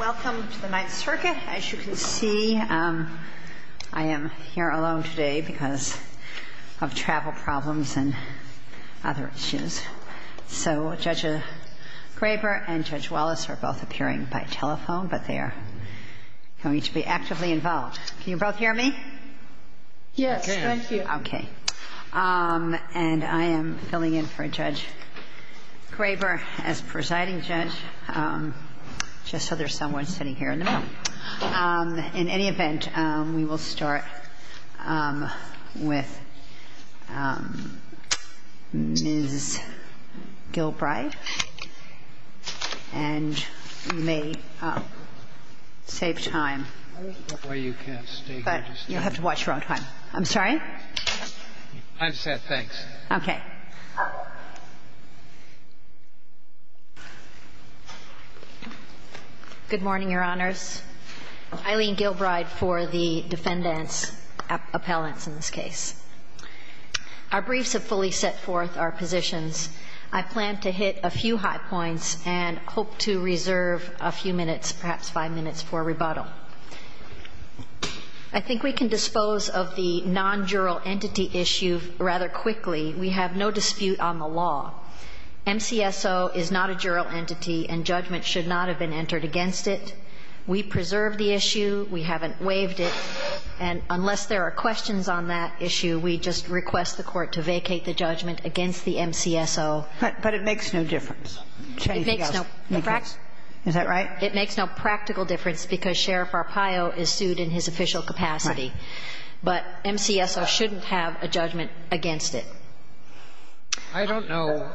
Welcome to the Ninth Circuit. As you can see, I am here alone today because of travel problems and other issues. So Judge Graber and Judge Wallace are both appearing by telephone, but they are going to be actively involved. Can you both hear me? Yes, thank you. Okay. And I am filling in for Judge Graber as presiding judge, just so there's someone sitting here in the middle. In any event, we will start with Ms. Gilbride. And you may save time, but you'll have to watch your own time. I'm sorry? I'm set, thanks. Okay. Good morning, Your Honors. Eileen Gilbride for the defendants' appellants in this case. Our briefs have fully set forth our positions. I plan to hit a few high points and hope to reserve a few minutes, perhaps five minutes, for rebuttal. I think we can dispose of the non-jural entity issue rather quickly. We have no dispute on the law. MCSO is not a jural entity, and judgment should not have been entered against it. We preserve the issue. We haven't waived it. And unless there are questions on that issue, we just request the Court to vacate the judgment against the MCSO. But it makes no difference. It makes no practical difference because Sheriff Arpaio is sued in his official capacity. But MCSO shouldn't have a judgment against it. I don't know.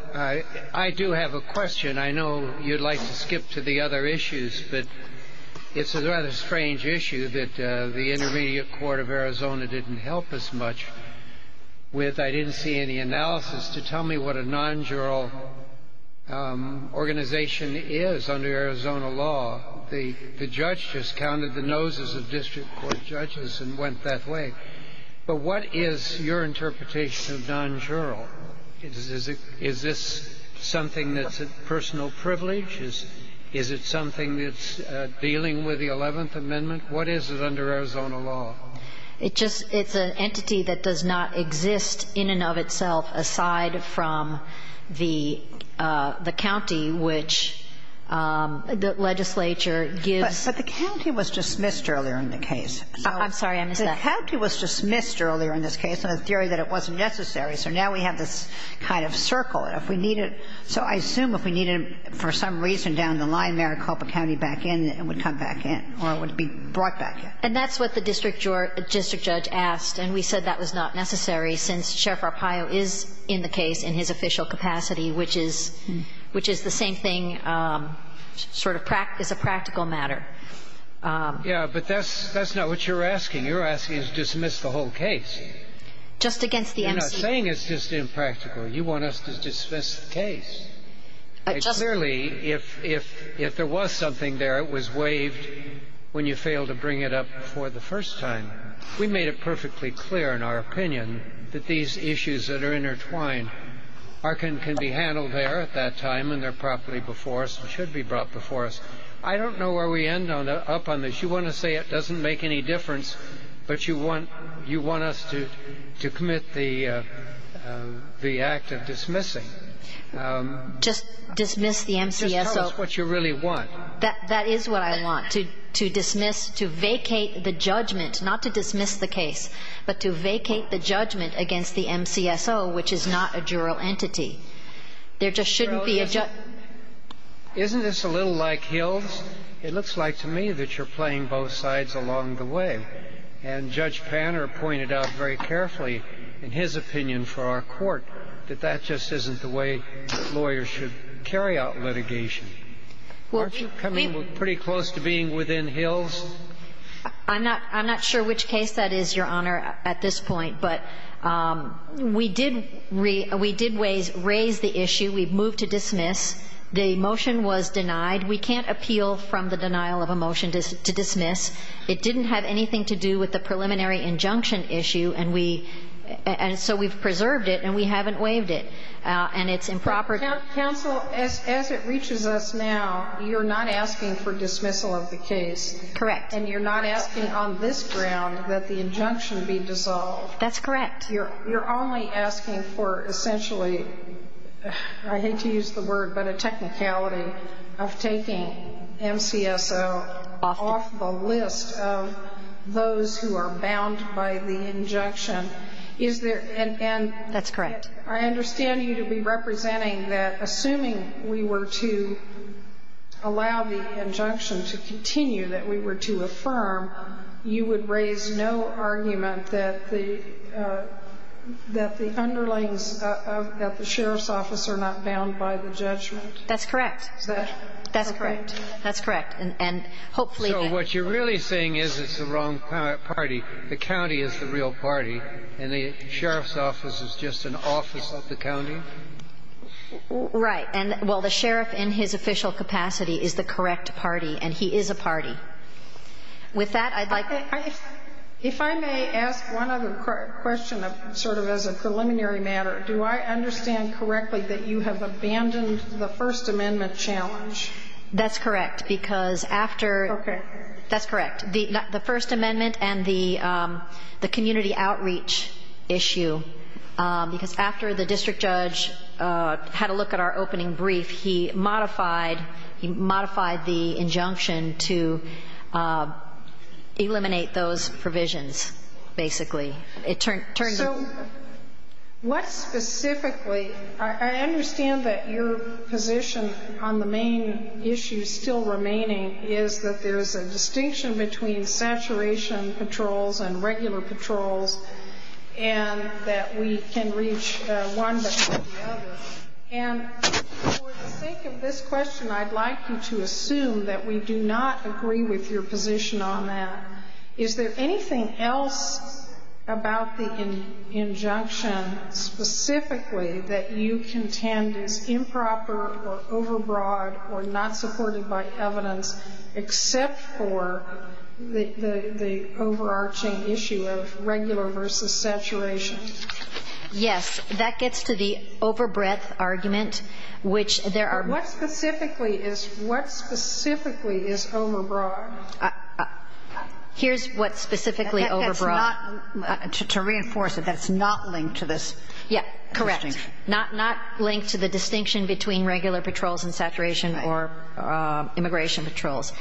I do have a question. And I know you'd like to skip to the other issues, but it's a rather strange issue that the Intermediate Court of Arizona didn't help us much with. I didn't see any analysis to tell me what a non-jural organization is under Arizona law. The judge just counted the noses of district court judges and went that way. But what is your interpretation of non-jural? Is this something that's a personal privilege? Is it something that's dealing with the Eleventh Amendment? What is it under Arizona law? It just – it's an entity that does not exist in and of itself aside from the county, which the legislature gives – But the county was dismissed earlier in the case. I'm sorry. I missed that. The county was dismissed earlier in this case on a theory that it wasn't necessary. So now we have this kind of circle. If we needed – so I assume if we needed for some reason down the line Maricopa County back in, it would come back in or it would be brought back in. And that's what the district judge asked. And we said that was not necessary since Sheriff Arpaio is in the case in his official capacity, which is the same thing sort of – is a practical matter. Yeah. But that's not what you're asking. You're asking us to dismiss the whole case. Just against the M.C. You're not saying it's just impractical. You want us to dismiss the case. Clearly, if there was something there, it was waived when you failed to bring it up for the first time. We made it perfectly clear in our opinion that these issues that are intertwined can be handled there at that time and they're properly before us and should be brought before us. I don't know where we end up on this. You want to say it doesn't make any difference, but you want us to commit the act of dismissing. Just dismiss the M.C.S.O. Just tell us what you really want. That is what I want, to dismiss, to vacate the judgment, not to dismiss the case, but to vacate the judgment against the M.C.S.O., which is not a juror entity. There just shouldn't be a judge. Isn't this a little like Hills? It looks like to me that you're playing both sides along the way, and Judge Panner pointed out very carefully in his opinion for our court that that just isn't the way lawyers should carry out litigation. Aren't you coming pretty close to being within Hills? I'm not sure which case that is, Your Honor, at this point, but we did raise the issue. We've moved to dismiss. The motion was denied. We can't appeal from the denial of a motion to dismiss. It didn't have anything to do with the preliminary injunction issue, and so we've preserved it and we haven't waived it, and it's improper. Counsel, as it reaches us now, you're not asking for dismissal of the case. Correct. And you're not asking on this ground that the injunction be dissolved. That's correct. You're only asking for essentially, I hate to use the word, but a technicality of taking MCSO off the list of those who are bound by the injunction. Is there an end? That's correct. I understand you to be representing that assuming we were to allow the injunction to continue, that we were to affirm, you would raise no argument that the underlings of the sheriff's office are not bound by the judgment? That's correct. Is that correct? That's correct. That's correct. And hopefully they're not. So what you're really saying is it's the wrong party. The county is the real party, and the sheriff's office is just an office of the county? Right. Well, the sheriff in his official capacity is the correct party, and he is a party. With that, I'd like to ---- If I may ask one other question sort of as a preliminary matter, do I understand correctly that you have abandoned the First Amendment challenge? That's correct, because after ---- Okay. That's correct. The First Amendment and the community outreach issue, because after the district judge had a look at our opening brief, he modified the injunction to eliminate those provisions, basically. So what specifically? I understand that your position on the main issue still remaining is that there is a distinction between saturation patrols and regular patrols, and that we can reach one before the other. And for the sake of this question, I'd like you to assume that we do not agree with your position on that. Is there anything else about the injunction specifically that you contend is improper or overbroad or not supported by evidence except for the overarching issue of regular versus saturation? Yes. That gets to the overbreadth argument, which there are ---- What specifically is overbroad? Here's what specifically overbroad. To reinforce it, that's not linked to this. Yeah. Correct. Not linked to the distinction between regular patrols and saturation or immigration patrols.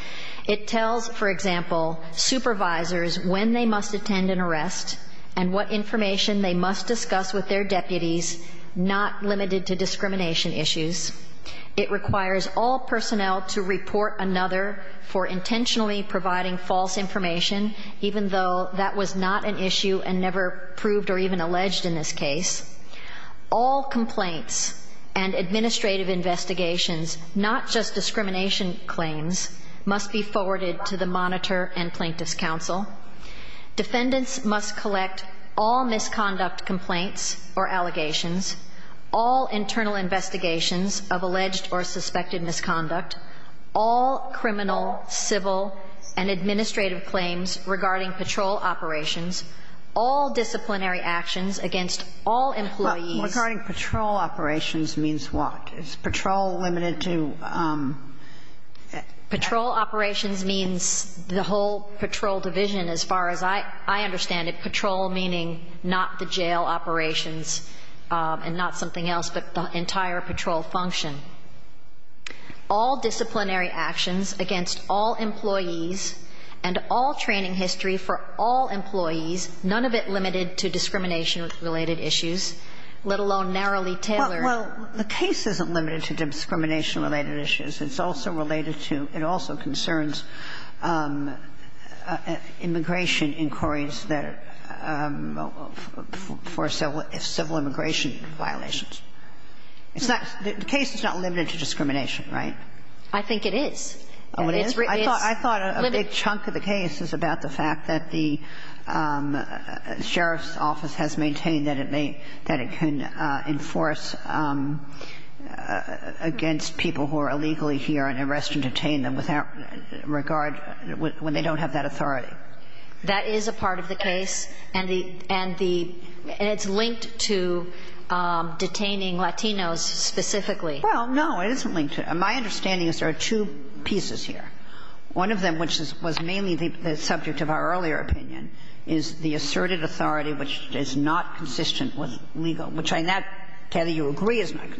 It tells, for example, supervisors when they must attend an arrest and what information they must discuss with their deputies, not limited to discrimination issues. It requires all personnel to report another for intentionally providing false information, even though that was not an issue and never proved or even alleged in this case. All complaints and administrative investigations, not just discrimination claims, must be forwarded to the monitor and plaintiff's counsel. Defendants must collect all misconduct complaints or allegations, all internal investigations of alleged or suspected misconduct, all criminal, civil, and administrative claims regarding patrol operations, all disciplinary actions against all employees ---- Regarding patrol operations means what? Is patrol limited to ---- Patrol operations means the whole patrol division as far as I understand it. Patrol meaning not the jail operations and not something else, but the entire patrol function. All disciplinary actions against all employees and all training history for all employees, none of it limited to discrimination-related issues, let alone narrowly tailored Well, the case isn't limited to discrimination-related issues. It's also related to, it also concerns immigration inquiries that are for civil immigration violations. The case is not limited to discrimination, right? I think it is. Oh, it is? It's limited. I thought a big chunk of the case is about the fact that the sheriff's office has maintained that it may, that it can enforce against people who are illegally here and arrest and detain them without regard when they don't have that authority. That is a part of the case, and the, and the, and it's linked to detaining Latinos specifically. Well, no, it isn't linked to. My understanding is there are two pieces here. One of them, which was mainly the subject of our earlier opinion, is the asserted authority, which is not consistent with legal, which I'm not sure you agree is not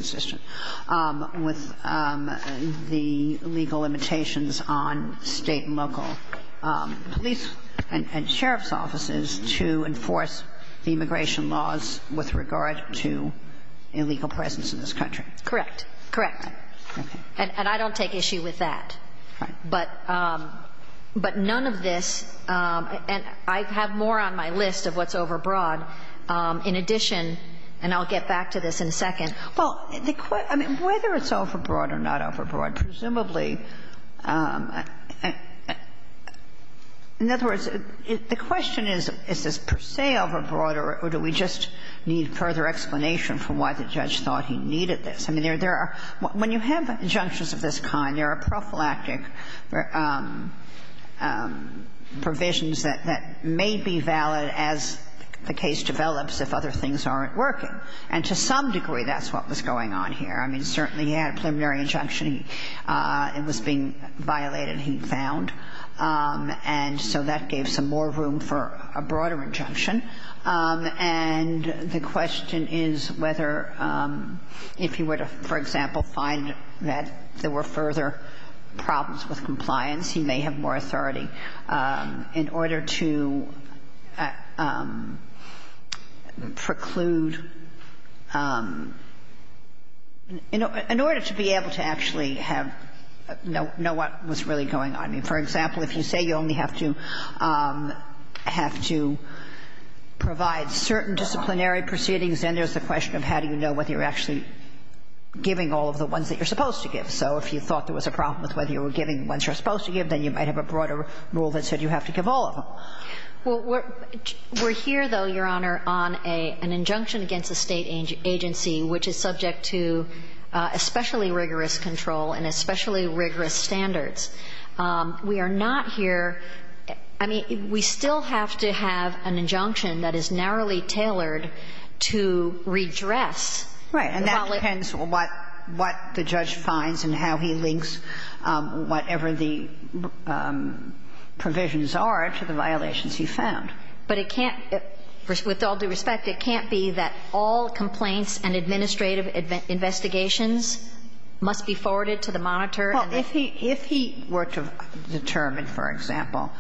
police and sheriff's offices to enforce the immigration laws with regard to illegal presence in this country. Correct. Correct. And I don't take issue with that. Right. But, but none of this, and I have more on my list of what's overbroad. In addition, and I'll get back to this in a second. Well, the, I mean, whether it's overbroad or not overbroad, presumably, in other words, the question is, is this per se overbroad or do we just need further explanation for why the judge thought he needed this? I mean, there are, when you have injunctions of this kind, there are prophylactic provisions that may be valid as the case develops if other things aren't working. And to some degree, that's what was going on here. I mean, certainly he had a preliminary injunction. It was being violated, he found. And so that gave some more room for a broader injunction. And the question is whether if he were to, for example, find that there were further problems with compliance, he may have more authority in order to preclude in order to be able to actually have, know what was really going on. I mean, for example, if you say you only have to have to provide certain disciplinary proceedings, then there's the question of how do you know whether you're actually giving all of the ones that you're supposed to give. So if you thought there was a problem with whether you were giving the ones you're supposed to give, then you might have a broader rule that said you have to give all of them. And so that's a question of whether you're giving them all. Well, we're here, though, Your Honor, on an injunction against a State agency which is subject to especially rigorous control and especially rigorous standards. We are not here – I mean, we still have to have an injunction that is narrowly tailored to redress the violation. And so the question is, what the judge finds and how he links whatever the provisions are to the violations he found. But it can't – with all due respect, it can't be that all complaints and administrative investigations must be forwarded to the monitor and the – Well, if he were to determine, for example,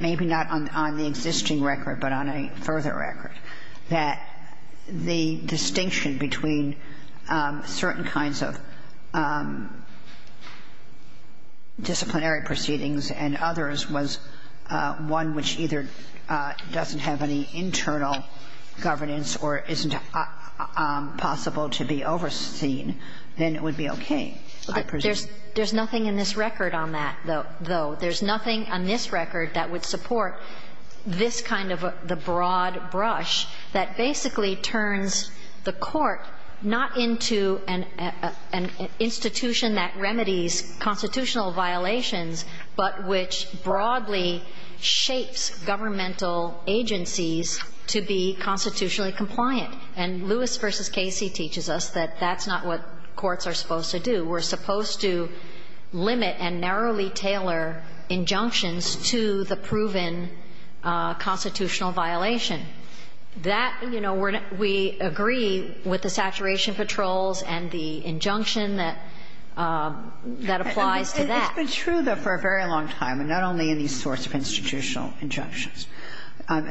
maybe not on the existing record but on certain kinds of disciplinary proceedings and others was one which either doesn't have any internal governance or isn't possible to be overseen, then it would be okay, I presume. But there's nothing in this record on that, though. There's nothing on this record that would support this kind of the broad brush that basically turns the court not into an institution that remedies constitutional violations but which broadly shapes governmental agencies to be constitutionally compliant. And Lewis v. Casey teaches us that that's not what courts are supposed to do. We're supposed to limit and narrowly tailor injunctions to the proven constitutional violation. That, you know, we agree with the saturation patrols and the injunction that applies to that. It's been true, though, for a very long time, and not only in these sorts of institutional injunctions.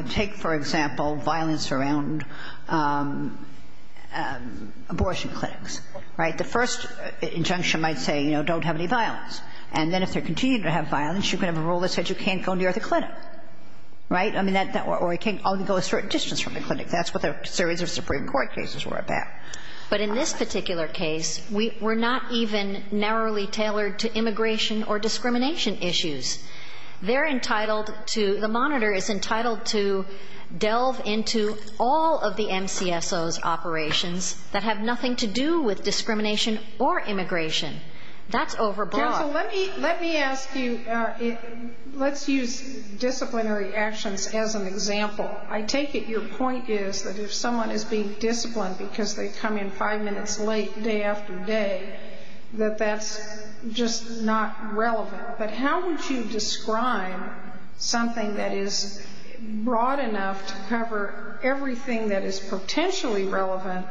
Take, for example, violence around abortion clinics. Right? The first injunction might say, you know, don't have any violence. And then if they're continuing to have violence, you can have a rule that said you can't go near the clinic. Right? I mean, or you can't go a certain distance from the clinic. That's what the surveys of Supreme Court cases were about. But in this particular case, we're not even narrowly tailored to immigration or discrimination issues. They're entitled to the monitor is entitled to delve into all of the MCSO's operations that have nothing to do with discrimination or immigration. That's overbroad. So let me ask you, let's use disciplinary actions as an example. I take it your point is that if someone is being disciplined because they come in five minutes late day after day, that that's just not relevant. But how would you describe something that is broad enough to cover everything that is potentially relevant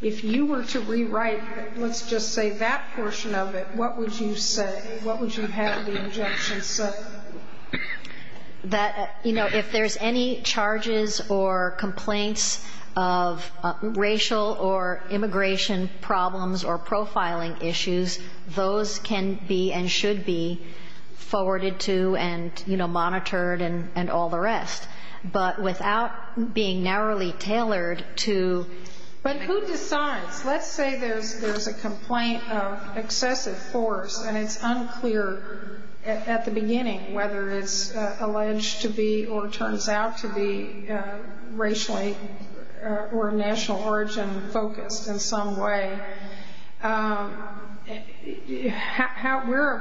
if you were to rewrite, let's just say, that portion of it, what would you say? What would you have the injunction say? That, you know, if there's any charges or complaints of racial or immigration problems or profiling issues, those can be and should be forwarded to and, you know, monitored and all the rest. But without being narrowly tailored to. But who decides? Let's say there's a complaint of excessive force and it's unclear at the beginning whether it's alleged to be or turns out to be racially or national origin focused in some way. Where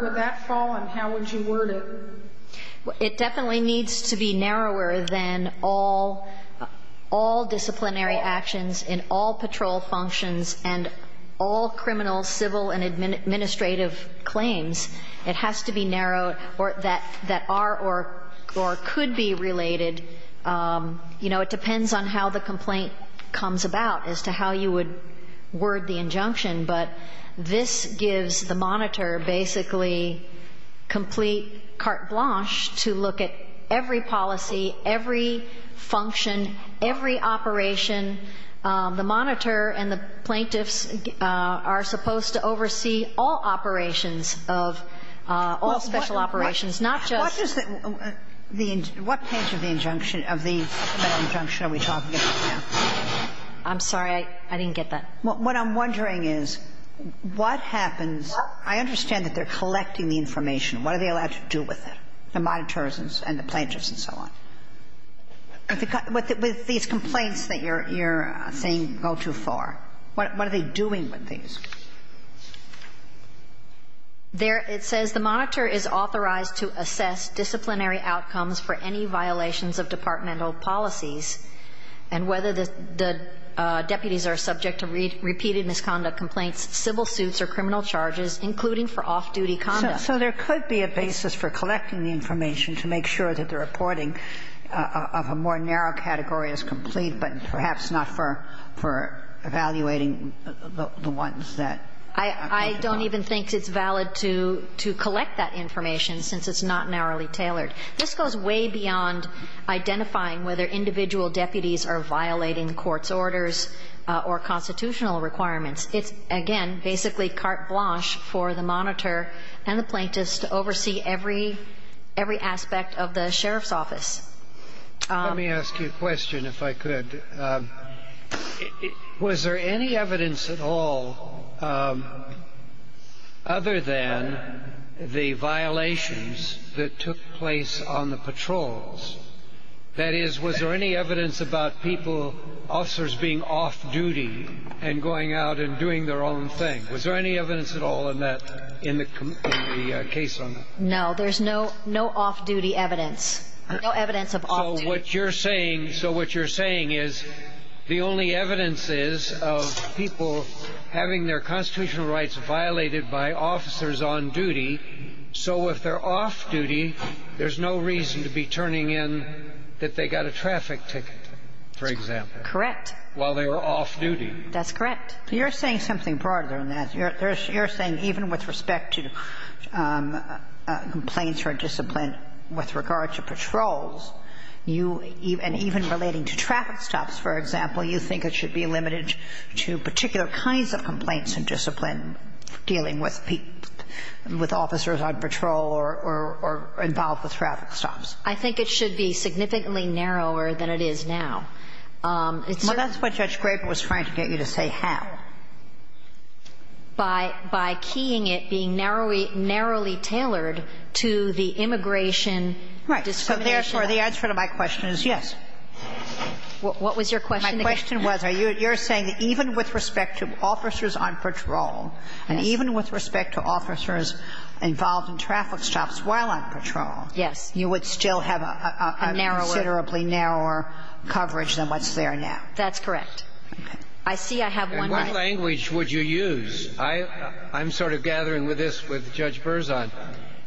would that fall and how would you word it? It definitely needs to be narrower than all disciplinary actions in all patrol functions and all criminal, civil and administrative claims. It has to be narrowed or that are or could be related. You know, it depends on how the complaint comes about as to how you would word the to look at every policy, every function, every operation. The monitor and the plaintiffs are supposed to oversee all operations of all special operations, not just. What page of the injunction are we talking about now? I'm sorry. I didn't get that. What I'm wondering is what happens. I understand that they're collecting the information. What are they allowed to do with it, the monitors and the plaintiffs and so on? With these complaints that you're saying go too far, what are they doing with these? It says the monitor is authorized to assess disciplinary outcomes for any violations of departmental policies and whether the deputies are subject to repeated misconduct complaints, civil suits or criminal charges, including for off-duty conduct. So there could be a basis for collecting the information to make sure that the reporting of a more narrow category is complete, but perhaps not for evaluating the ones that are. I don't even think it's valid to collect that information since it's not narrowly tailored. This goes way beyond identifying whether individual deputies are violating court's orders or constitutional requirements. It's, again, basically carte blanche for the monitor and the plaintiffs to oversee every aspect of the sheriff's office. Let me ask you a question, if I could. Was there any evidence at all other than the violations that took place on the patrols? That is, was there any evidence about people, officers being off-duty and going out and doing their own thing? Was there any evidence at all in the case on that? No, there's no off-duty evidence. No evidence of off-duty. So what you're saying is the only evidence is of people having their constitutional rights violated by officers on duty, so if they're off-duty, there's no reason to be turning in that they got a traffic ticket, for example. Correct. While they were off-duty. That's correct. You're saying something broader than that. You're saying even with respect to complaints or discipline with regard to patrols, you even relating to traffic stops, for example, you think it should be limited to particular kinds of complaints and discipline dealing with people, with officers on patrol or involved with traffic stops. I think it should be significantly narrower than it is now. Well, that's what Judge Graber was trying to get you to say, how. By keying it, being narrowly tailored to the immigration discrimination. Right. So therefore, the answer to my question is yes. What was your question again? My question was, you're saying that even with respect to officers on patrol and even with respect to officers involved in traffic stops while on patrol, you would still have a considerably narrower coverage than what's there now. That's correct. I see I have one more. What language would you use? I'm sort of gathering with this with Judge Berzon.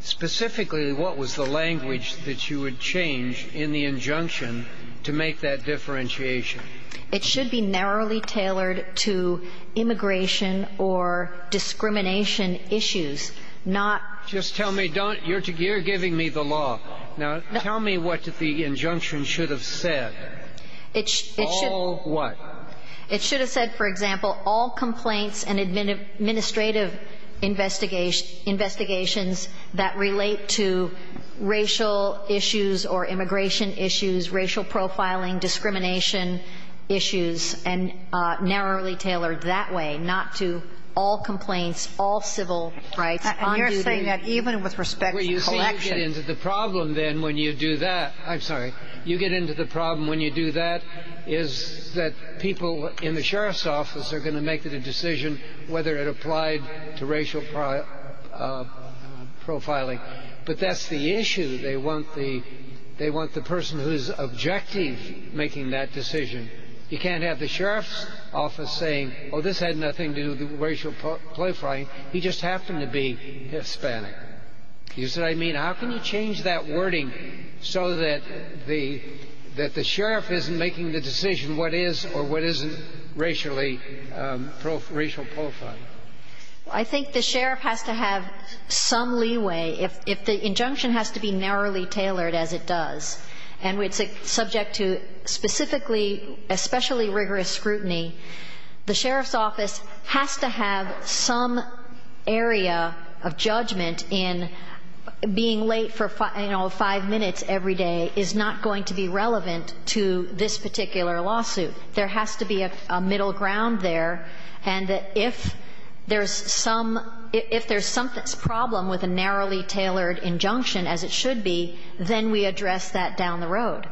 Specifically, what was the language that you would change in the injunction to make that differentiation? It should be narrowly tailored to immigration or discrimination issues, not. Just tell me. You're giving me the law. Now, tell me what the injunction should have said. It should. All what? It should have said, for example, all complaints and administrative investigations that relate to racial issues or immigration issues, racial profiling, discrimination issues, and narrowly tailored that way, not to all complaints, all civil rights. And you're saying that even with respect to collection. Well, you see, you get into the problem then when you do that. I'm sorry. You get into the problem when you do that is that people in the sheriff's office are going to make the decision whether it applied to racial profiling. But that's the issue. They want the person whose objective making that decision. You can't have the sheriff's office saying, oh, this had nothing to do with racial profiling. He just happened to be Hispanic. You see what I mean? How can you change that wording so that the sheriff isn't making the decision what is or what isn't racially, racial profiling? I think the sheriff has to have some leeway. If the injunction has to be narrowly tailored, as it does, and it's subject to specifically, especially rigorous scrutiny, the sheriff's office has to have some area of judgment in being late for, you know, five minutes every day is not going to be relevant to this particular lawsuit. There has to be a middle ground there. And if there's some problem with a narrowly tailored injunction, as it should be, then we address that down the road.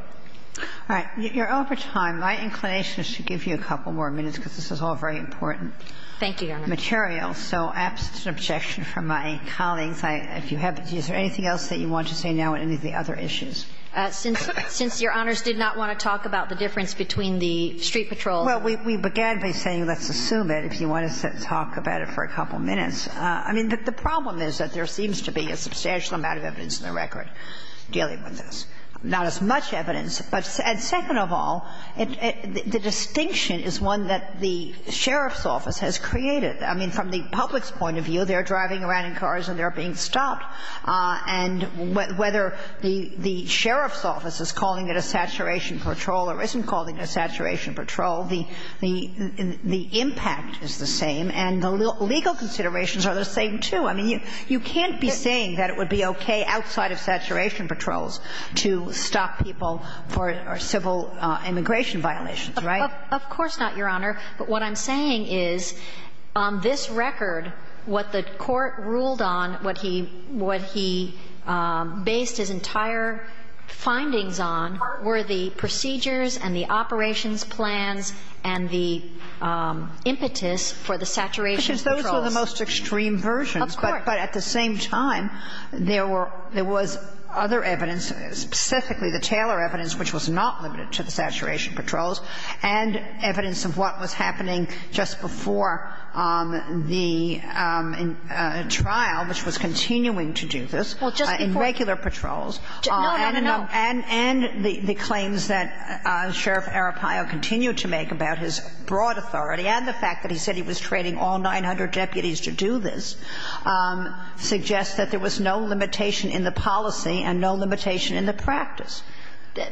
All right. You're over time. My inclination is to give you a couple more minutes, because this is all very important Thank you, Your Honor. So absent an objection from my colleagues, if you have anything else that you want to say now on any of the other issues? Since Your Honors did not want to talk about the difference between the street patrols Well, we began by saying let's assume that if you want to talk about it for a couple of minutes. I mean, the problem is that there seems to be a substantial amount of evidence in the record dealing with this, not as much evidence. But second of all, the distinction is one that the sheriff's office has created. I mean, from the public's point of view, they're driving around in cars and they're being stopped. And whether the sheriff's office is calling it a saturation patrol or isn't calling it a saturation patrol, the impact is the same and the legal considerations are the same, too. I mean, you can't be saying that it would be okay outside of saturation patrols to stop people for civil immigration violations, right? Of course not, Your Honor. But what I'm saying is on this record, what the court ruled on, what he based his entire findings on were the procedures and the operations plans and the impetus for the saturation patrols. Because those were the most extreme versions. Of course. But at the same time, there were other evidence, specifically the Taylor evidence, which was not limited to the saturation patrols, and evidence of what was happening just before the trial, which was continuing to do this in regular patrols. Well, just before. No, no, no. And the claims that Sheriff Arapaio continued to make about his broad authority and the fact that he said he was training all 900 deputies to do this suggests that there was no limitation in the policy and no limitation in the practice.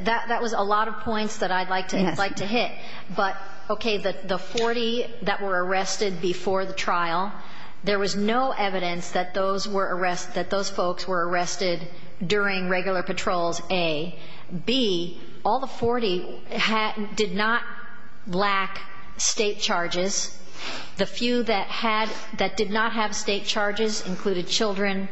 That was a lot of points that I'd like to hit. Yes. But, okay, the 40 that were arrested before the trial, there was no evidence that those folks were arrested during regular patrols, A. B, all the 40 did not lack state charges. The few that had, that did not have state charges included children.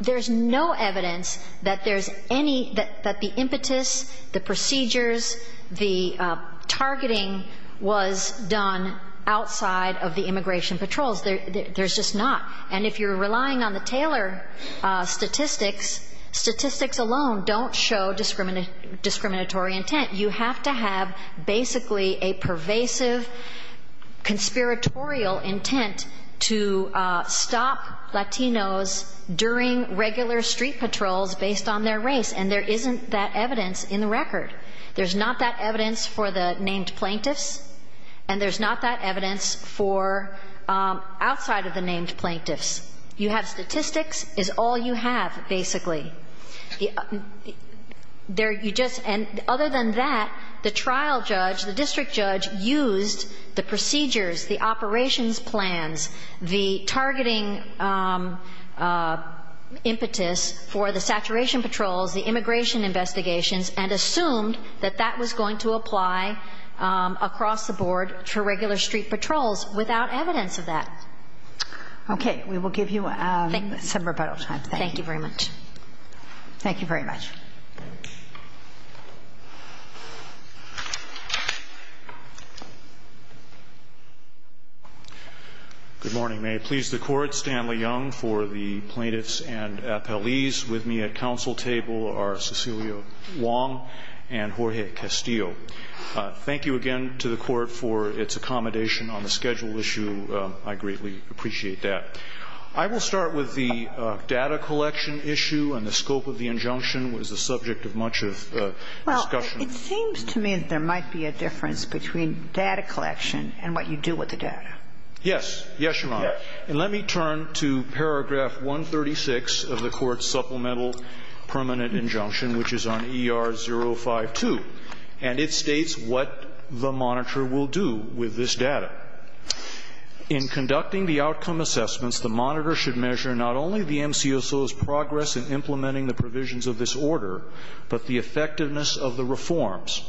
There's no evidence that there's any, that the impetus, the procedures, the targeting was done outside of the immigration patrols. There's just not. And if you're relying on the Taylor statistics, statistics alone don't show discriminatory intent. You have to have basically a pervasive conspiratorial intent to stop Latinos during regular street patrols based on their race, and there isn't that evidence in the record. There's not that evidence for the named plaintiffs, and there's not that evidence for outside of the named plaintiffs. You have statistics is all you have basically. You just, and other than that, the trial judge, the district judge, used the procedures, the operations plans, the targeting impetus for the saturation patrols, the immigration investigations, and assumed that that was going to apply across the board to regular street patrols without evidence of that. Okay. We will give you some rebuttal time. Thank you. Thank you very much. Thank you very much. Good morning. May it please the Court, Stanley Young for the plaintiffs and appellees. With me at council table are Cecilia Wong and Jorge Castillo. Thank you again to the Court for its accommodation on the schedule issue. I greatly appreciate that. I will start with the data collection issue and the scope of the injunction was the subject of much of the discussion. Well, it seems to me that there might be a difference between data collection and what you do with the data. Yes. Yes, Your Honor. And let me turn to paragraph 136 of the Court's supplemental permanent injunction, which is on ER052. And it states what the monitor will do with this data. In conducting the outcome assessments, the monitor should measure not only the MCSO's progress in implementing the provisions of this order, but the effectiveness of the reforms.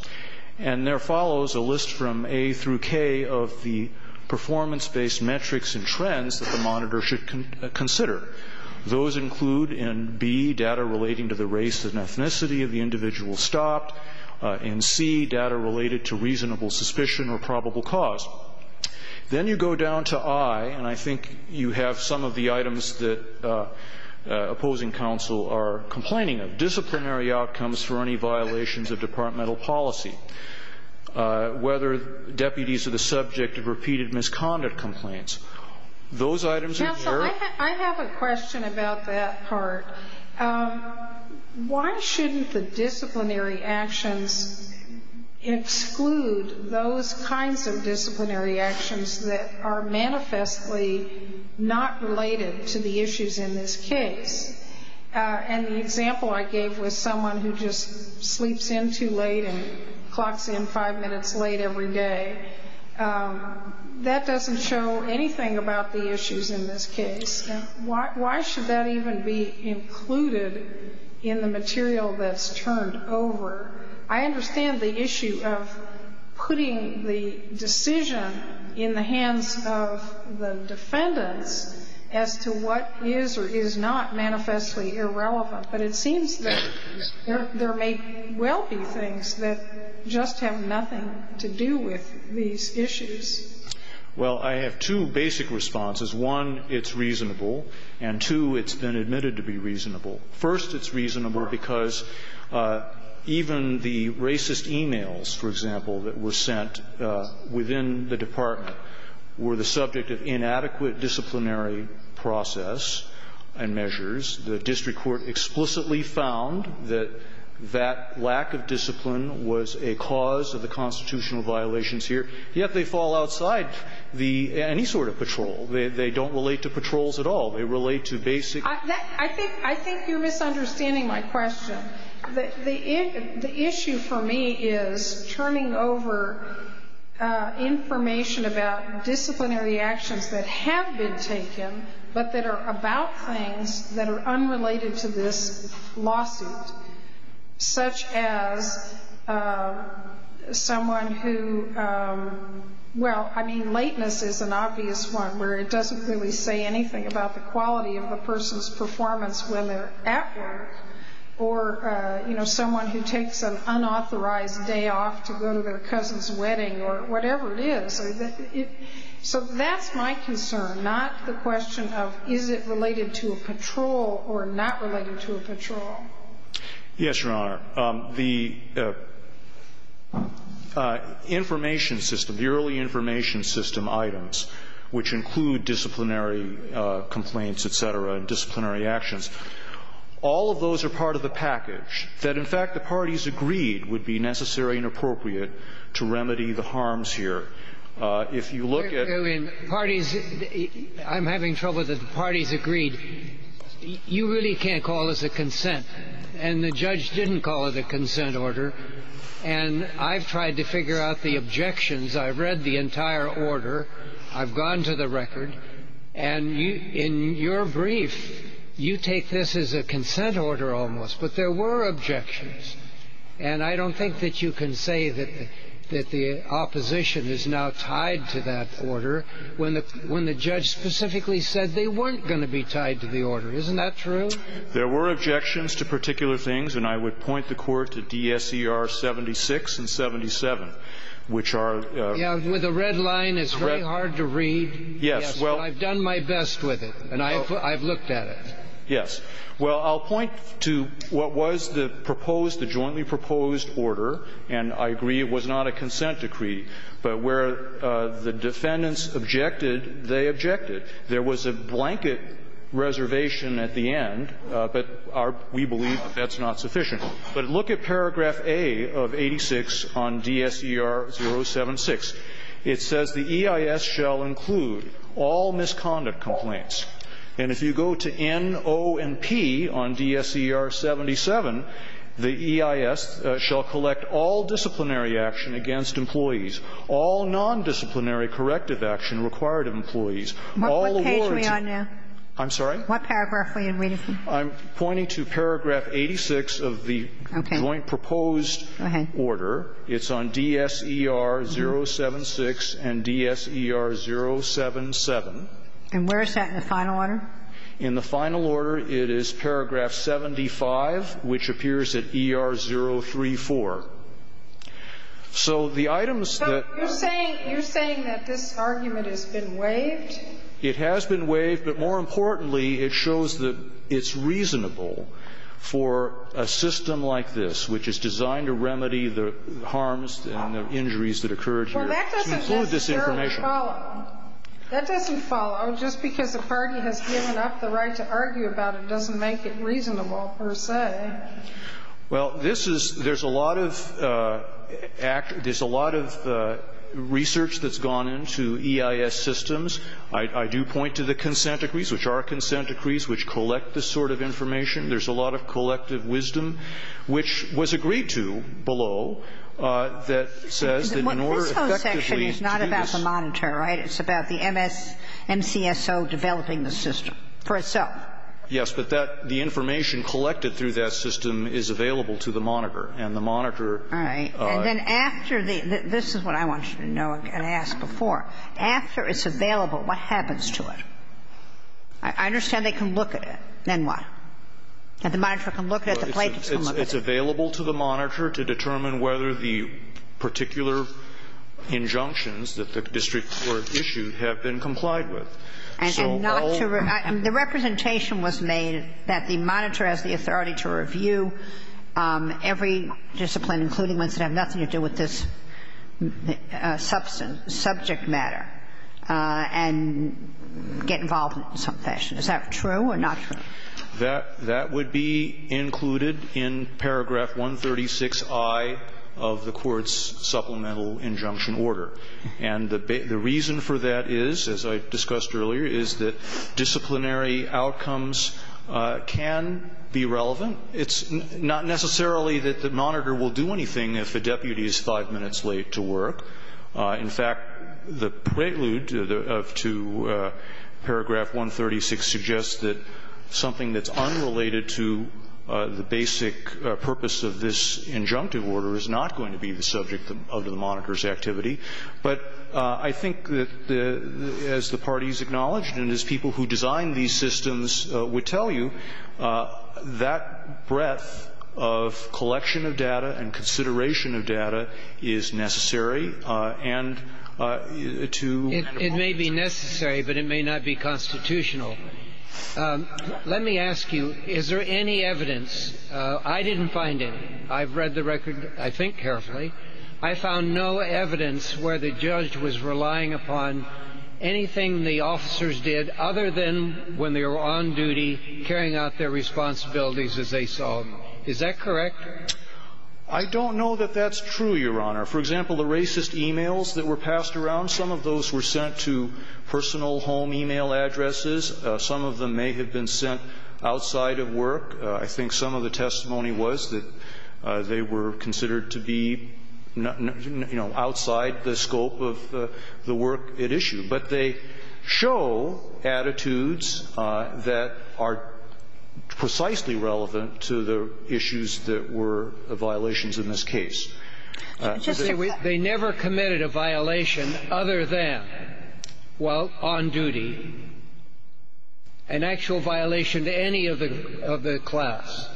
And there follows a list from A through K of the performance-based metrics and trends that the monitor should consider. Those include in B, data relating to the race and ethnicity of the individual stopped. In C, data related to reasonable suspicion or probable cause. Then you go down to I, and I think you have some of the items that opposing counsel are complaining of. Disciplinary outcomes for any violations of departmental policy. Whether deputies are the subject of repeated misconduct complaints. Those items are here. Counsel, I have a question about that part. Why shouldn't the disciplinary actions exclude those kinds of disciplinary actions that are manifestly not related to the issues in this case? And the example I gave was someone who just sleeps in too late and clocks in five minutes late every day. That doesn't show anything about the issues in this case. Why should that even be included in the material that's turned over? I understand the issue of putting the decision in the hands of the defendants as to what is or is not manifestly irrelevant. But it seems that there may well be things that just have nothing to do with these issues. Well, I have two basic responses. One, it's reasonable. And, two, it's been admitted to be reasonable. First, it's reasonable because even the racist e-mails, for example, that were sent within the department were the subject of inadequate disciplinary process and measures. The district court explicitly found that that lack of discipline was a cause of the constitutional violations here. Yet they fall outside the any sort of patrol. They don't relate to patrols at all. They relate to basic. I think you're misunderstanding my question. The issue for me is turning over information about disciplinary actions that have been taken but that are about things that are unrelated to this lawsuit, such as someone who, well, I mean, lateness is an obvious one where it doesn't really say anything about the quality of the person's performance when they're at work or, you know, someone who takes an unauthorized day off to go to their cousin's wedding or whatever it is. So that's my concern, not the question of is it related to a patrol or not related to a patrol. Yes, Your Honor. The information system, the early information system items, which include disciplinary complaints, et cetera, disciplinary actions, all of those are part of the package that, in fact, the parties agreed would be necessary and appropriate to remedy the problem. If you look at... I'm having trouble that the parties agreed. You really can't call this a consent. And the judge didn't call it a consent order. And I've tried to figure out the objections. I've read the entire order. I've gone to the record. And in your brief, you take this as a consent order almost. But there were objections. And I don't think that you can say that the opposition is now tied to that order when the judge specifically said they weren't going to be tied to the order. Isn't that true? There were objections to particular things. And I would point the Court to DSER 76 and 77, which are... Yeah, with the red line, it's very hard to read. Yes. Well, I've done my best with it. And I've looked at it. Yes. Well, I'll point to what was the proposed, the jointly proposed order. And I agree it was not a consent decree. But where the defendants objected, they objected. There was a blanket reservation at the end. But we believe that that's not sufficient. But look at paragraph A of 86 on DSER 076. It says, And if you go to N, O, and P on DSER 77, the EIS shall collect all disciplinary action against employees, all nondisciplinary corrective action required of employees, all awards... What page are we on now? I'm sorry? What paragraph are you reading? Okay. DSER 076 and DSER 077. And where is that in the final order? In the final order, it is paragraph 75, which appears at ER 034. So the items that... You're saying that this argument has been waived? It has been waived. But more importantly, it shows that it's reasonable for a system like this, which is designed to remedy the harms and the injuries that occurred here, to include Well, that doesn't follow. That doesn't follow. Just because the party has given up the right to argue about it doesn't make it reasonable per se. Well, this is — there's a lot of — there's a lot of research that's gone into EIS systems. I do point to the consent decrees, which are consent decrees, which collect this sort of information. There's a lot of collective wisdom, which was agreed to below, that says that in order to effectively do this... This whole section is not about the monitor, right? It's about the MS — MCSO developing the system for itself. Yes. But that — the information collected through that system is available to the monitor, and the monitor... All right. And then after the — this is what I want you to know and ask before. After it's available, what happens to it? I understand they can look at it. Then what? And the monitor can look at it. The plaintiffs can look at it. It's available to the monitor to determine whether the particular injunctions that the district court issued have been complied with. And not to — the representation was made that the monitor has the authority to review every discipline, including ones that have nothing to do with this subject matter, and get involved in some fashion. Is that true or not true? That would be included in paragraph 136I of the court's supplemental injunction order. And the reason for that is, as I discussed earlier, is that disciplinary outcomes can be relevant. It's not necessarily that the monitor will do anything if the deputy is five minutes late to work. In fact, the prelude to paragraph 136 suggests that something that's unrelated to the basic purpose of this injunctive order is not going to be the subject of the monitor's activity. But I think that, as the parties acknowledged and as people who designed these systems would tell you, that breadth of collection of data and consideration of data is necessary, and to — It may be necessary, but it may not be constitutional. Let me ask you, is there any evidence — I didn't find any. I've read the record, I think, carefully. I found no evidence where the judge was relying upon anything the officers did other than when they were on duty, carrying out their responsibilities as they saw them. Is that correct? I don't know that that's true, Your Honor. For example, the racist e-mails that were passed around, some of those were sent to personal home e-mail addresses. Some of them may have been sent outside of work. I think some of the testimony was that they were considered to be, you know, outside the scope of the work at issue. But they show attitudes that are precisely relevant to the issues that were violations in this case. They never committed a violation other than while on duty, an actual violation to any of the class.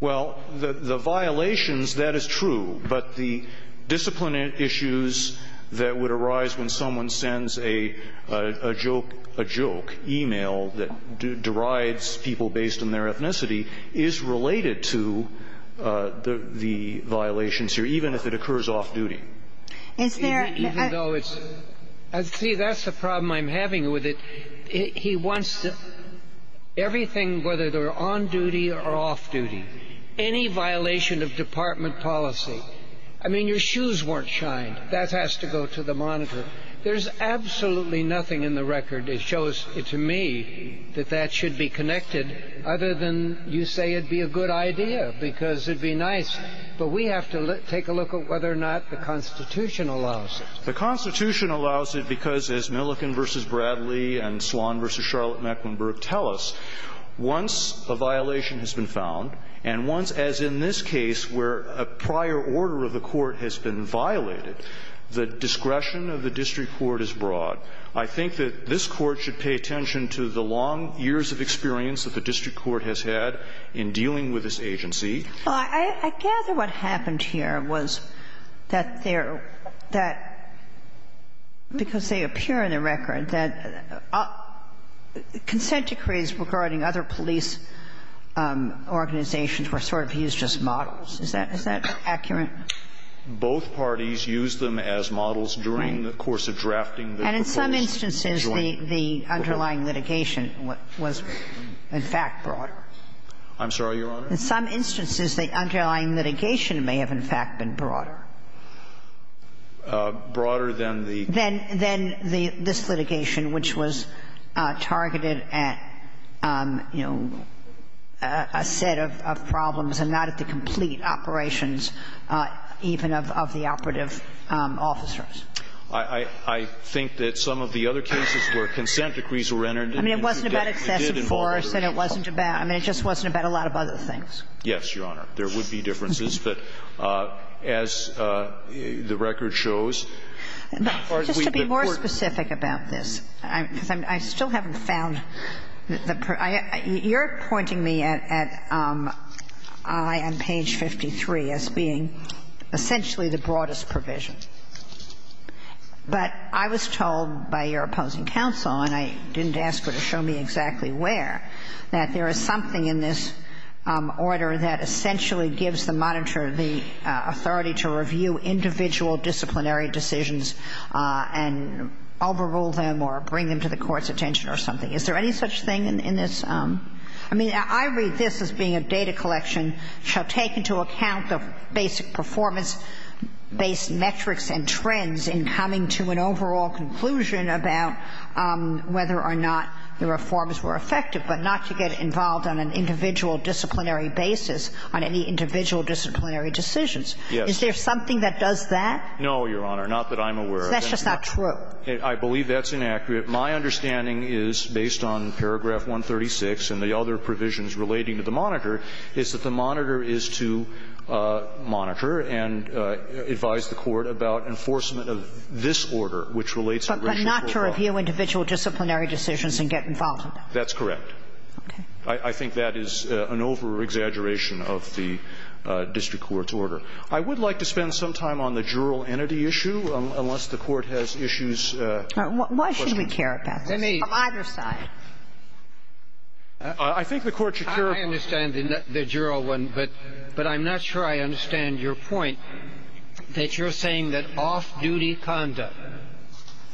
Well, the violations, that is true. But the discipline issues that would arise when someone sends a joke — a joke e-mail that derides people based on their ethnicity is related to the violations here, even if it occurs off-duty. Is there — Even though it's — see, that's the problem I'm having with it. He wants everything, whether they're on duty or off-duty, any violation of department policy. I mean, your shoes weren't shined. That has to go to the monitor. There's absolutely nothing in the record that shows to me that that should be connected other than you say it'd be a good idea because it'd be nice. But we have to take a look at whether or not the Constitution allows it. The Constitution allows it because, as Milliken v. Bradley and Swan v. Charlotte say, the prior order of the Court has been violated. The discretion of the district court is broad. I think that this Court should pay attention to the long years of experience that the district court has had in dealing with this agency. Well, I gather what happened here was that there — that because they appear in the record that consent decrees regarding other police organizations were sort of used as models. Is that accurate? Both parties used them as models during the course of drafting the reports. And in some instances, the underlying litigation was in fact broader. I'm sorry, Your Honor? In some instances, the underlying litigation may have in fact been broader. Broader than the — Than this litigation, which was targeted at, you know, a set of problems and not at the complete operations even of the operative officers. I think that some of the other cases where consent decrees were entered into did involve other people. I mean, it wasn't about excessive force, and it wasn't about — I mean, it just wasn't about a lot of other things. Yes, Your Honor. But as the record shows, as far as we've been — But just to be more specific about this, because I still haven't found the — you're pointing me at I on page 53 as being essentially the broadest provision. But I was told by your opposing counsel, and I didn't ask her to show me exactly where, that there is something in this order that essentially gives the monitor the authority to review individual disciplinary decisions and overrule them or bring them to the court's attention or something. Is there any such thing in this? I mean, I read this as being a data collection shall take into account the basic performance-based metrics and trends in coming to an overall conclusion about whether or not the reforms were effective, but not to get involved on an individual disciplinary basis on any individual disciplinary decisions. Yes. Is there something that does that? No, Your Honor. Not that I'm aware of. That's just not true. I believe that's inaccurate. My understanding is, based on paragraph 136 and the other provisions relating to the monitor, is that the monitor is to monitor and advise the court about enforcement of this order, which relates to racial equality. But not to review individual disciplinary decisions and get involved. That's correct. Okay. I think that is an over-exaggeration of the district court's order. I would like to spend some time on the jural entity issue, unless the Court has issues Why should we care about this? On either side. I think the Court should care about this. I understand the jural one, but I'm not sure I understand your point, that you're saying that off-duty conduct,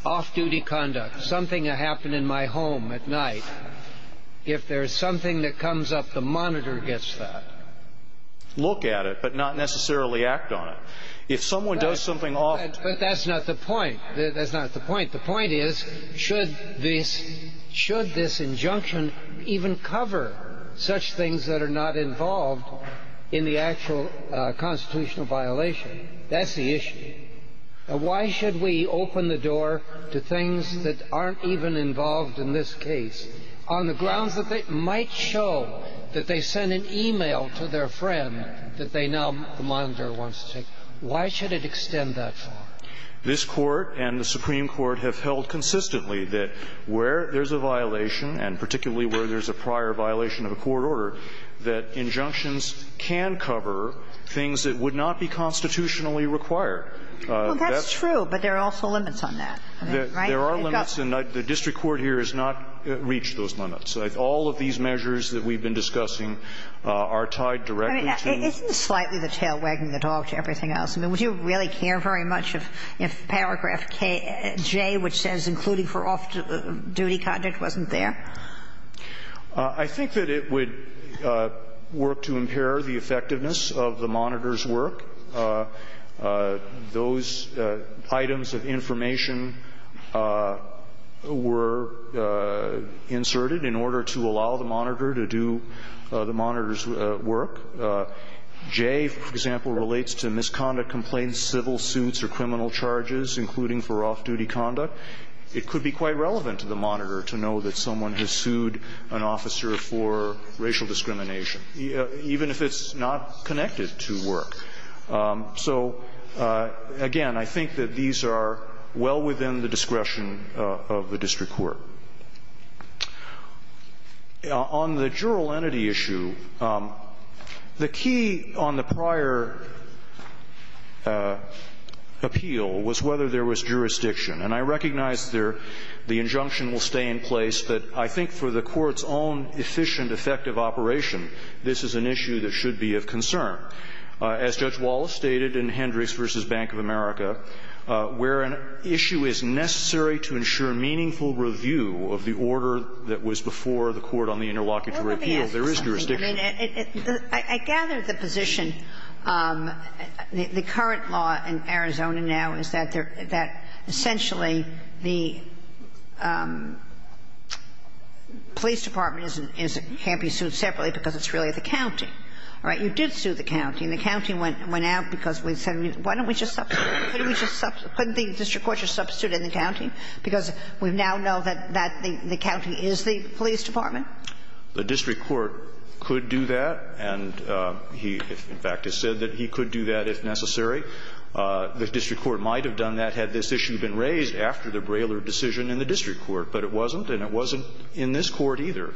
off-duty conduct, something that happened in my home at night, if there's something that comes up, the monitor gets that. Look at it, but not necessarily act on it. If someone does something off- But that's not the point. That's not the point. The point is, should this injunction even cover such things that are not involved in the actual constitutional violation? That's the issue. Why should we open the door to things that aren't even involved in this case on the grounds that they might show that they sent an e-mail to their friend that they now the monitor wants to take? Why should it extend that far? This Court and the Supreme Court have held consistently that where there's a violation, and particularly where there's a prior violation of a court order, that injunctions can cover things that would not be constitutionally required. Well, that's true, but there are also limits on that, right? There are limits, and the district court here has not reached those limits. All of these measures that we've been discussing are tied directly to the- I mean, isn't this slightly the tail wagging the dog to everything else? I mean, would you really care very much if paragraph KJ, which says including for off-duty conduct, wasn't there? I think that it would work to impair the effectiveness of the monitor's work. Those items of information were inserted in order to allow the monitor to do the monitor's work. J, for example, relates to misconduct complaints, civil suits or criminal charges, including for off-duty conduct. It could be quite relevant to the monitor to know that someone has sued an officer for racial discrimination, even if it's not connected to work. So, again, I think that these are well within the discretion of the district court. On the jural entity issue, the key on the prior appeal was whether there was jurisdiction. And I recognize there the injunction will stay in place, but I think for the Court's own efficient, effective operation, this is an issue that should be of concern. As Judge Wallace stated in Hendricks v. Bank of America, where an issue is necessary to ensure meaningful review of the order that was before the court on the interlocutory appeal, there is jurisdiction. Well, let me ask you something. I mean, I gather the position, the current law in Arizona now is that essentially the police department can't be sued separately because it's really the county. Right? You did sue the county. And the county went out because we said, why don't we just substitute? Couldn't the district court just substitute in the county? Because we now know that that the county is the police department. The district court could do that, and he, in fact, has said that he could do that if necessary. The district court might have done that had this issue been raised after the Braylor decision in the district court. But it wasn't, and it wasn't in this Court either.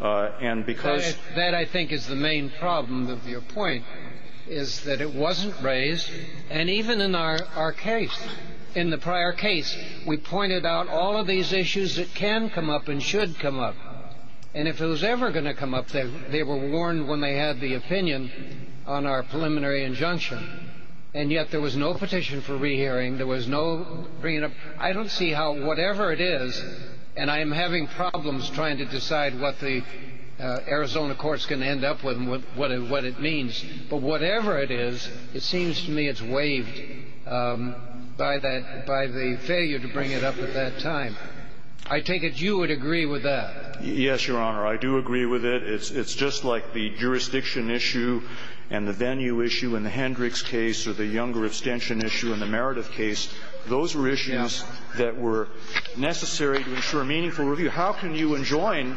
And because that I think is the main problem of your point, is that it wasn't raised. And even in our case, in the prior case, we pointed out all of these issues that can come up and should come up. And if it was ever going to come up, they were warned when they had the opinion on our preliminary injunction. And yet there was no petition for rehearing. There was no bringing up. I don't see how whatever it is, and I am having problems trying to decide what the Arizona courts can end up with and what it means. But whatever it is, it seems to me it's waived by that, by the failure to bring it up at that time. I take it you would agree with that. Yes, Your Honor. I do agree with it. It's just like the jurisdiction issue and the venue issue in the Hendricks case or the Younger abstention issue in the Meredith case. Those were issues that were necessary to ensure meaningful review. How can you enjoin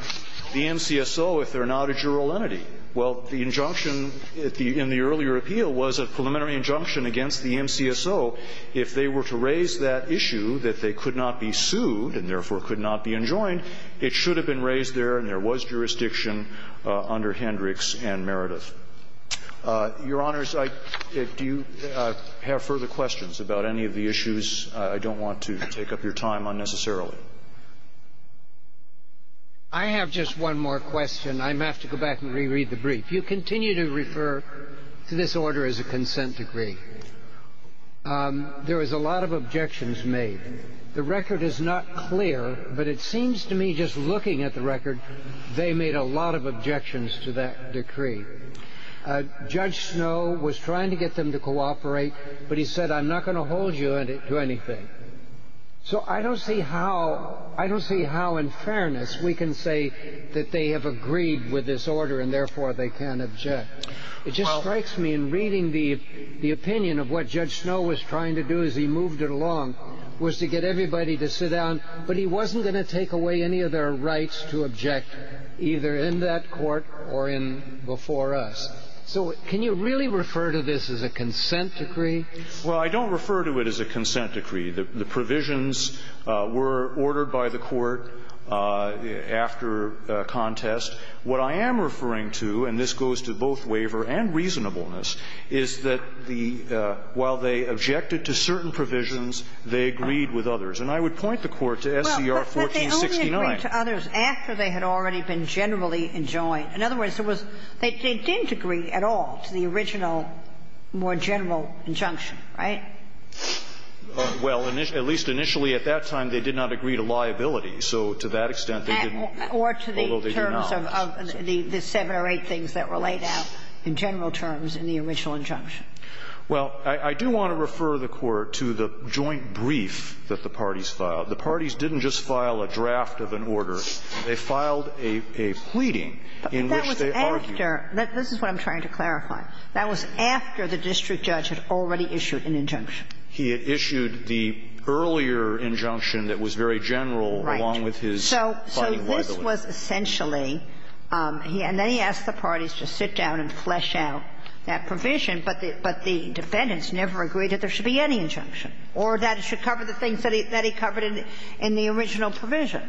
the NCSO if they're not a jural entity? Well, the injunction in the earlier appeal was a preliminary injunction against the NCSO. If they were to raise that issue that they could not be sued and therefore could not be enjoined, it should have been raised there and there was jurisdiction under Hendricks and Meredith. Your Honors, do you have further questions about any of the issues? I don't want to take up your time unnecessarily. I have just one more question. I have to go back and reread the brief. You continue to refer to this order as a consent decree. There was a lot of objections made. The record is not clear, but it seems to me just looking at the record, they made a lot of objections to that decree. Judge Snow was trying to get them to cooperate, but he said, I'm not going to hold you to anything. I don't see how in fairness we can say that they have agreed with this order and therefore they can't object. It just strikes me in reading the opinion of what Judge Snow was trying to do as he moved it along was to get everybody to sit down, but he wasn't going to take away any of their rights to object either in that court or before us. Can you really refer to this as a consent decree? Well, I don't refer to it as a consent decree. The provisions were ordered by the Court after contest. What I am referring to, and this goes to both waiver and reasonableness, is that the while they objected to certain provisions, they agreed with others. And I would point the Court to SCR 1469. But they only agreed to others after they had already been generally enjoined. In other words, there was they didn't agree at all to the original more general injunction, right? Well, at least initially at that time, they did not agree to liability. So to that extent, they didn't, although they do now. Or to the terms of the seven or eight things that were laid out in general terms in the original injunction. Well, I do want to refer the Court to the joint brief that the parties filed. The parties didn't just file a draft of an order. They filed a pleading in which they argued. But that was after. This is what I'm trying to clarify. That was after the district judge had already issued an injunction. He had issued the earlier injunction that was very general, along with his fighting liability. Right. So this was essentially, and then he asked the parties to sit down and flesh out that provision, but the defendants never agreed that there should be any injunction or that it should cover the things that he covered in the original provision.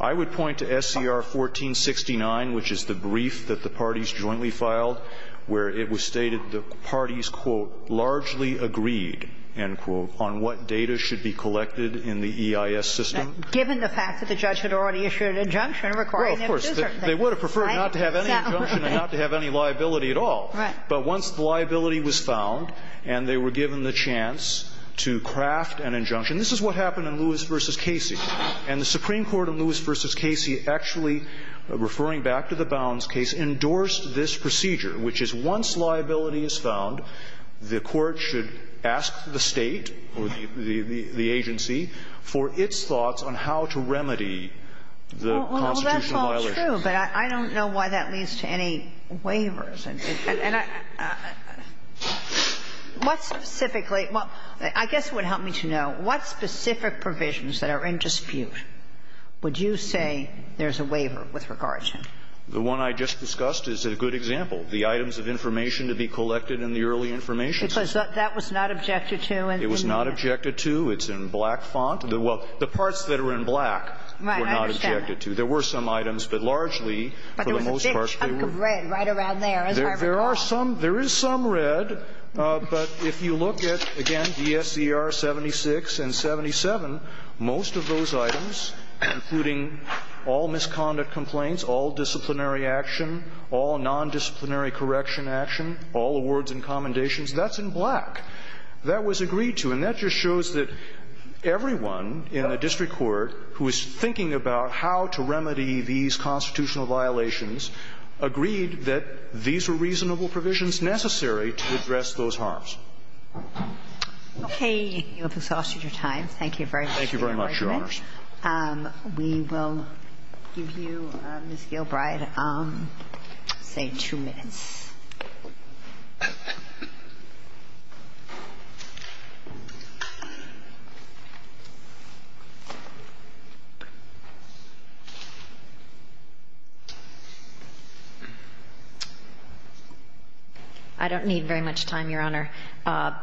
I would point to SCR 1469, which is the brief that the parties jointly filed, where it was stated the parties, quote, largely agreed, end quote, on what data should be collected in the EIS system. Given the fact that the judge had already issued an injunction requiring him to do certain things, right? Well, of course. They would have preferred not to have any injunction and not to have any liability at all. Right. But once the liability was found and they were given the chance to craft an injunction This is what happened in Lewis v. Casey. And the Supreme Court in Lewis v. Casey actually, referring back to the Bounds case, endorsed this procedure, which is once liability is found, the court should ask the State or the agency for its thoughts on how to remedy the constitutional violation. Well, that's not true, but I don't know why that leads to any waivers. And what specifically – I guess it would help me to know, what specific provisions that are in dispute would you say there's a waiver with regard to? The one I just discussed is a good example. The items of information to be collected in the early information system. Because that was not objected to. It was not objected to. It's in black font. Well, the parts that are in black were not objected to. Right. I understand that. There were some items, but largely, for the most part, they were – But there was a big chunk of red right around there, as I recall. There are some – there is some red, but if you look at, again, DSCR 76 and 77, most of those items, including all misconduct complaints, all disciplinary action, all nondisciplinary correction action, all awards and commendations, that's in black. That was agreed to. And that just shows that everyone in the district court who is thinking about how to remedy these constitutional violations agreed that these were reasonable provisions necessary to address those harms. You have exhausted your time. Thank you very much, Your Honor. Thank you very much, Your Honors. We will give you, Ms. Gilbride, say two minutes. I don't need very much time, Your Honor. Can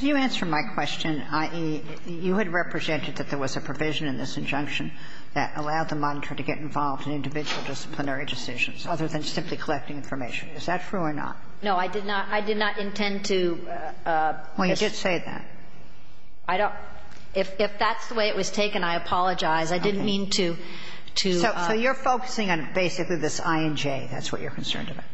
you answer my question, i.e., you had represented that there was a provision in this injunction that allowed the monitor to get involved in individual disciplinary decisions other than simply collecting information. Is that true or not? No, I did not. I did not intend to. Well, you did say that. I don't – if that's the way it was taken, I apologize. I didn't mean to, to – So you're focusing on basically this I and J. That's what you're concerned about.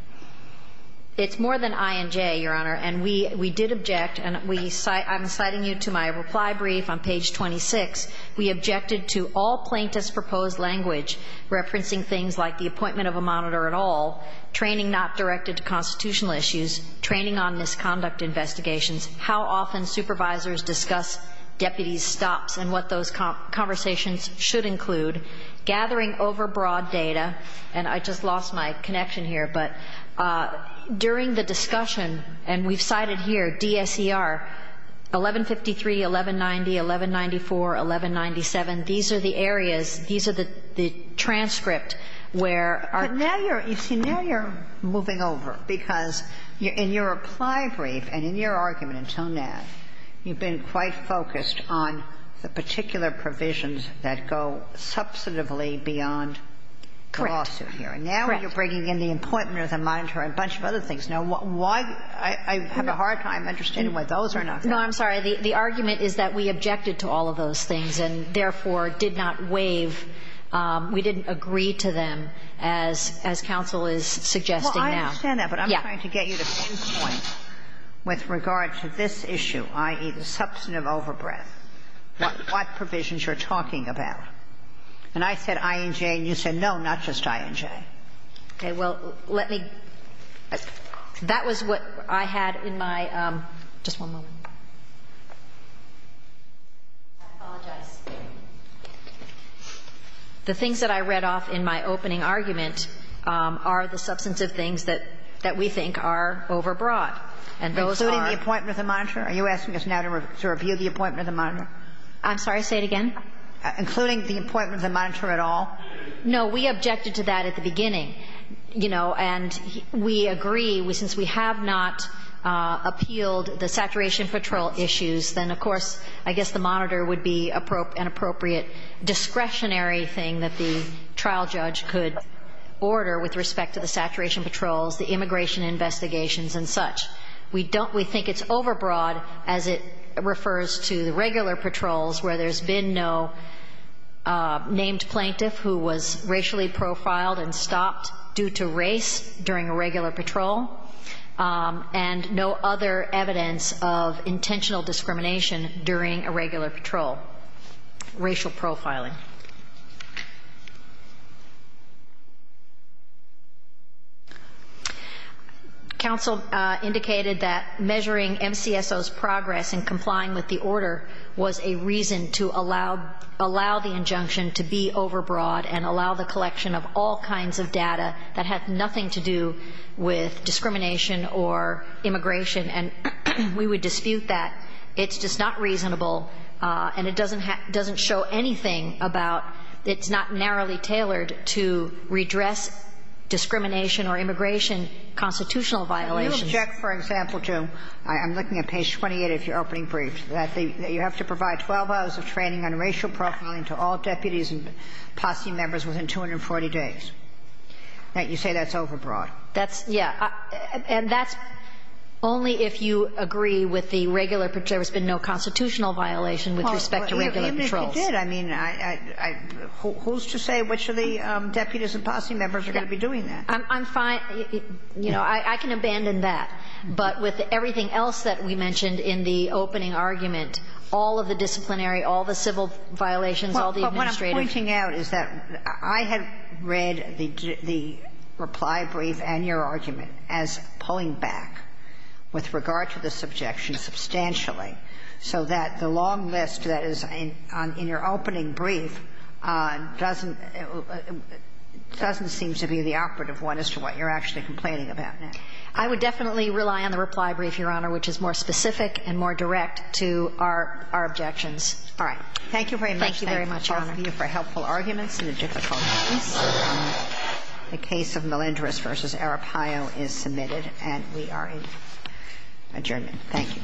It's more than I and J, Your Honor. And we did object, and we – I'm citing you to my reply brief on page 26. We objected to all plaintiffs' proposed language referencing things like the appointment of a monitor at all, training not directed to constitutional issues, training on misconduct investigations, how often supervisors discuss deputies' stops and what those conversations should include, gathering overbroad data – and I just lost my connection here – but during the discussion, and we've cited here DSER, 1153, 1190, 1194, 1197, these are the areas, these are the transcripts where our – But now you're – you see, now you're moving over, because in your reply brief and in your argument until now, you've been quite focused on the particular provisions that go substantively beyond the lawsuit here. Correct. And now you're bringing in the appointment of the monitor and a bunch of other things. Now, why – I have a hard time understanding why those are not there. No, I'm sorry. The argument is that we objected to all of those things and therefore did not waive – we didn't agree to them as – as counsel is suggesting now. Well, I understand that. Yeah. But I'm trying to get you to some point with regard to this issue, i.e., the substantive overbreadth, what provisions you're talking about. And I said I and J, and you said no, not just I and J. Okay. Well, let me – that was what I had in my – just one moment. I apologize. The things that I read off in my opening argument are the substantive things that we think are overbroad, and those are – Including the appointment of the monitor? Are you asking us now to review the appointment of the monitor? I'm sorry. Say it again. Including the appointment of the monitor at all? No. We objected to that at the beginning, you know. And we agree, since we have not appealed the saturation patrol issues, then of course I guess the monitor would be an appropriate discretionary thing that the trial judge could order with respect to the saturation patrols, the immigration investigations and such. We don't – we think it's overbroad as it refers to the regular patrols where there's been no named plaintiff who was racially profiled and stopped due to race during a regular patrol, and no other evidence of intentional discrimination during a regular patrol, racial profiling. Counsel indicated that measuring MCSO's progress in complying with the order was a reasonable reason to allow the injunction to be overbroad and allow the collection of all kinds of data that had nothing to do with discrimination or immigration, and we would dispute that. It's just not reasonable, and it doesn't show anything about – it's not narrowly tailored to redress discrimination or immigration constitutional violations. You object, for example, to – I'm looking at page 28 of your opening briefs – that you have to provide 12 hours of training on racial profiling to all deputies and posse members within 240 days. You say that's overbroad. That's – yeah. And that's only if you agree with the regular – there's been no constitutional violation with respect to regular patrols. Even if you did, I mean, who's to say which of the deputies and posse members are going to be doing that? I'm fine. You know, I can abandon that. But with everything else that we mentioned in the opening argument, all of the disciplinary, all the civil violations, all the administrative – Well, what I'm pointing out is that I have read the reply brief and your argument as pulling back with regard to the subjection substantially, so that the long list that is in your opening brief doesn't – doesn't seem to be the operative one as to what you're actually complaining about. I would definitely rely on the reply brief, Your Honor, which is more specific and more direct to our – our objections. All right. Thank you very much. Thank you very much, Your Honor. Thank all of you for helpful arguments in the difficult case. The case of Melendrez v. Arapaio is submitted, and we are adjourned. Thank you.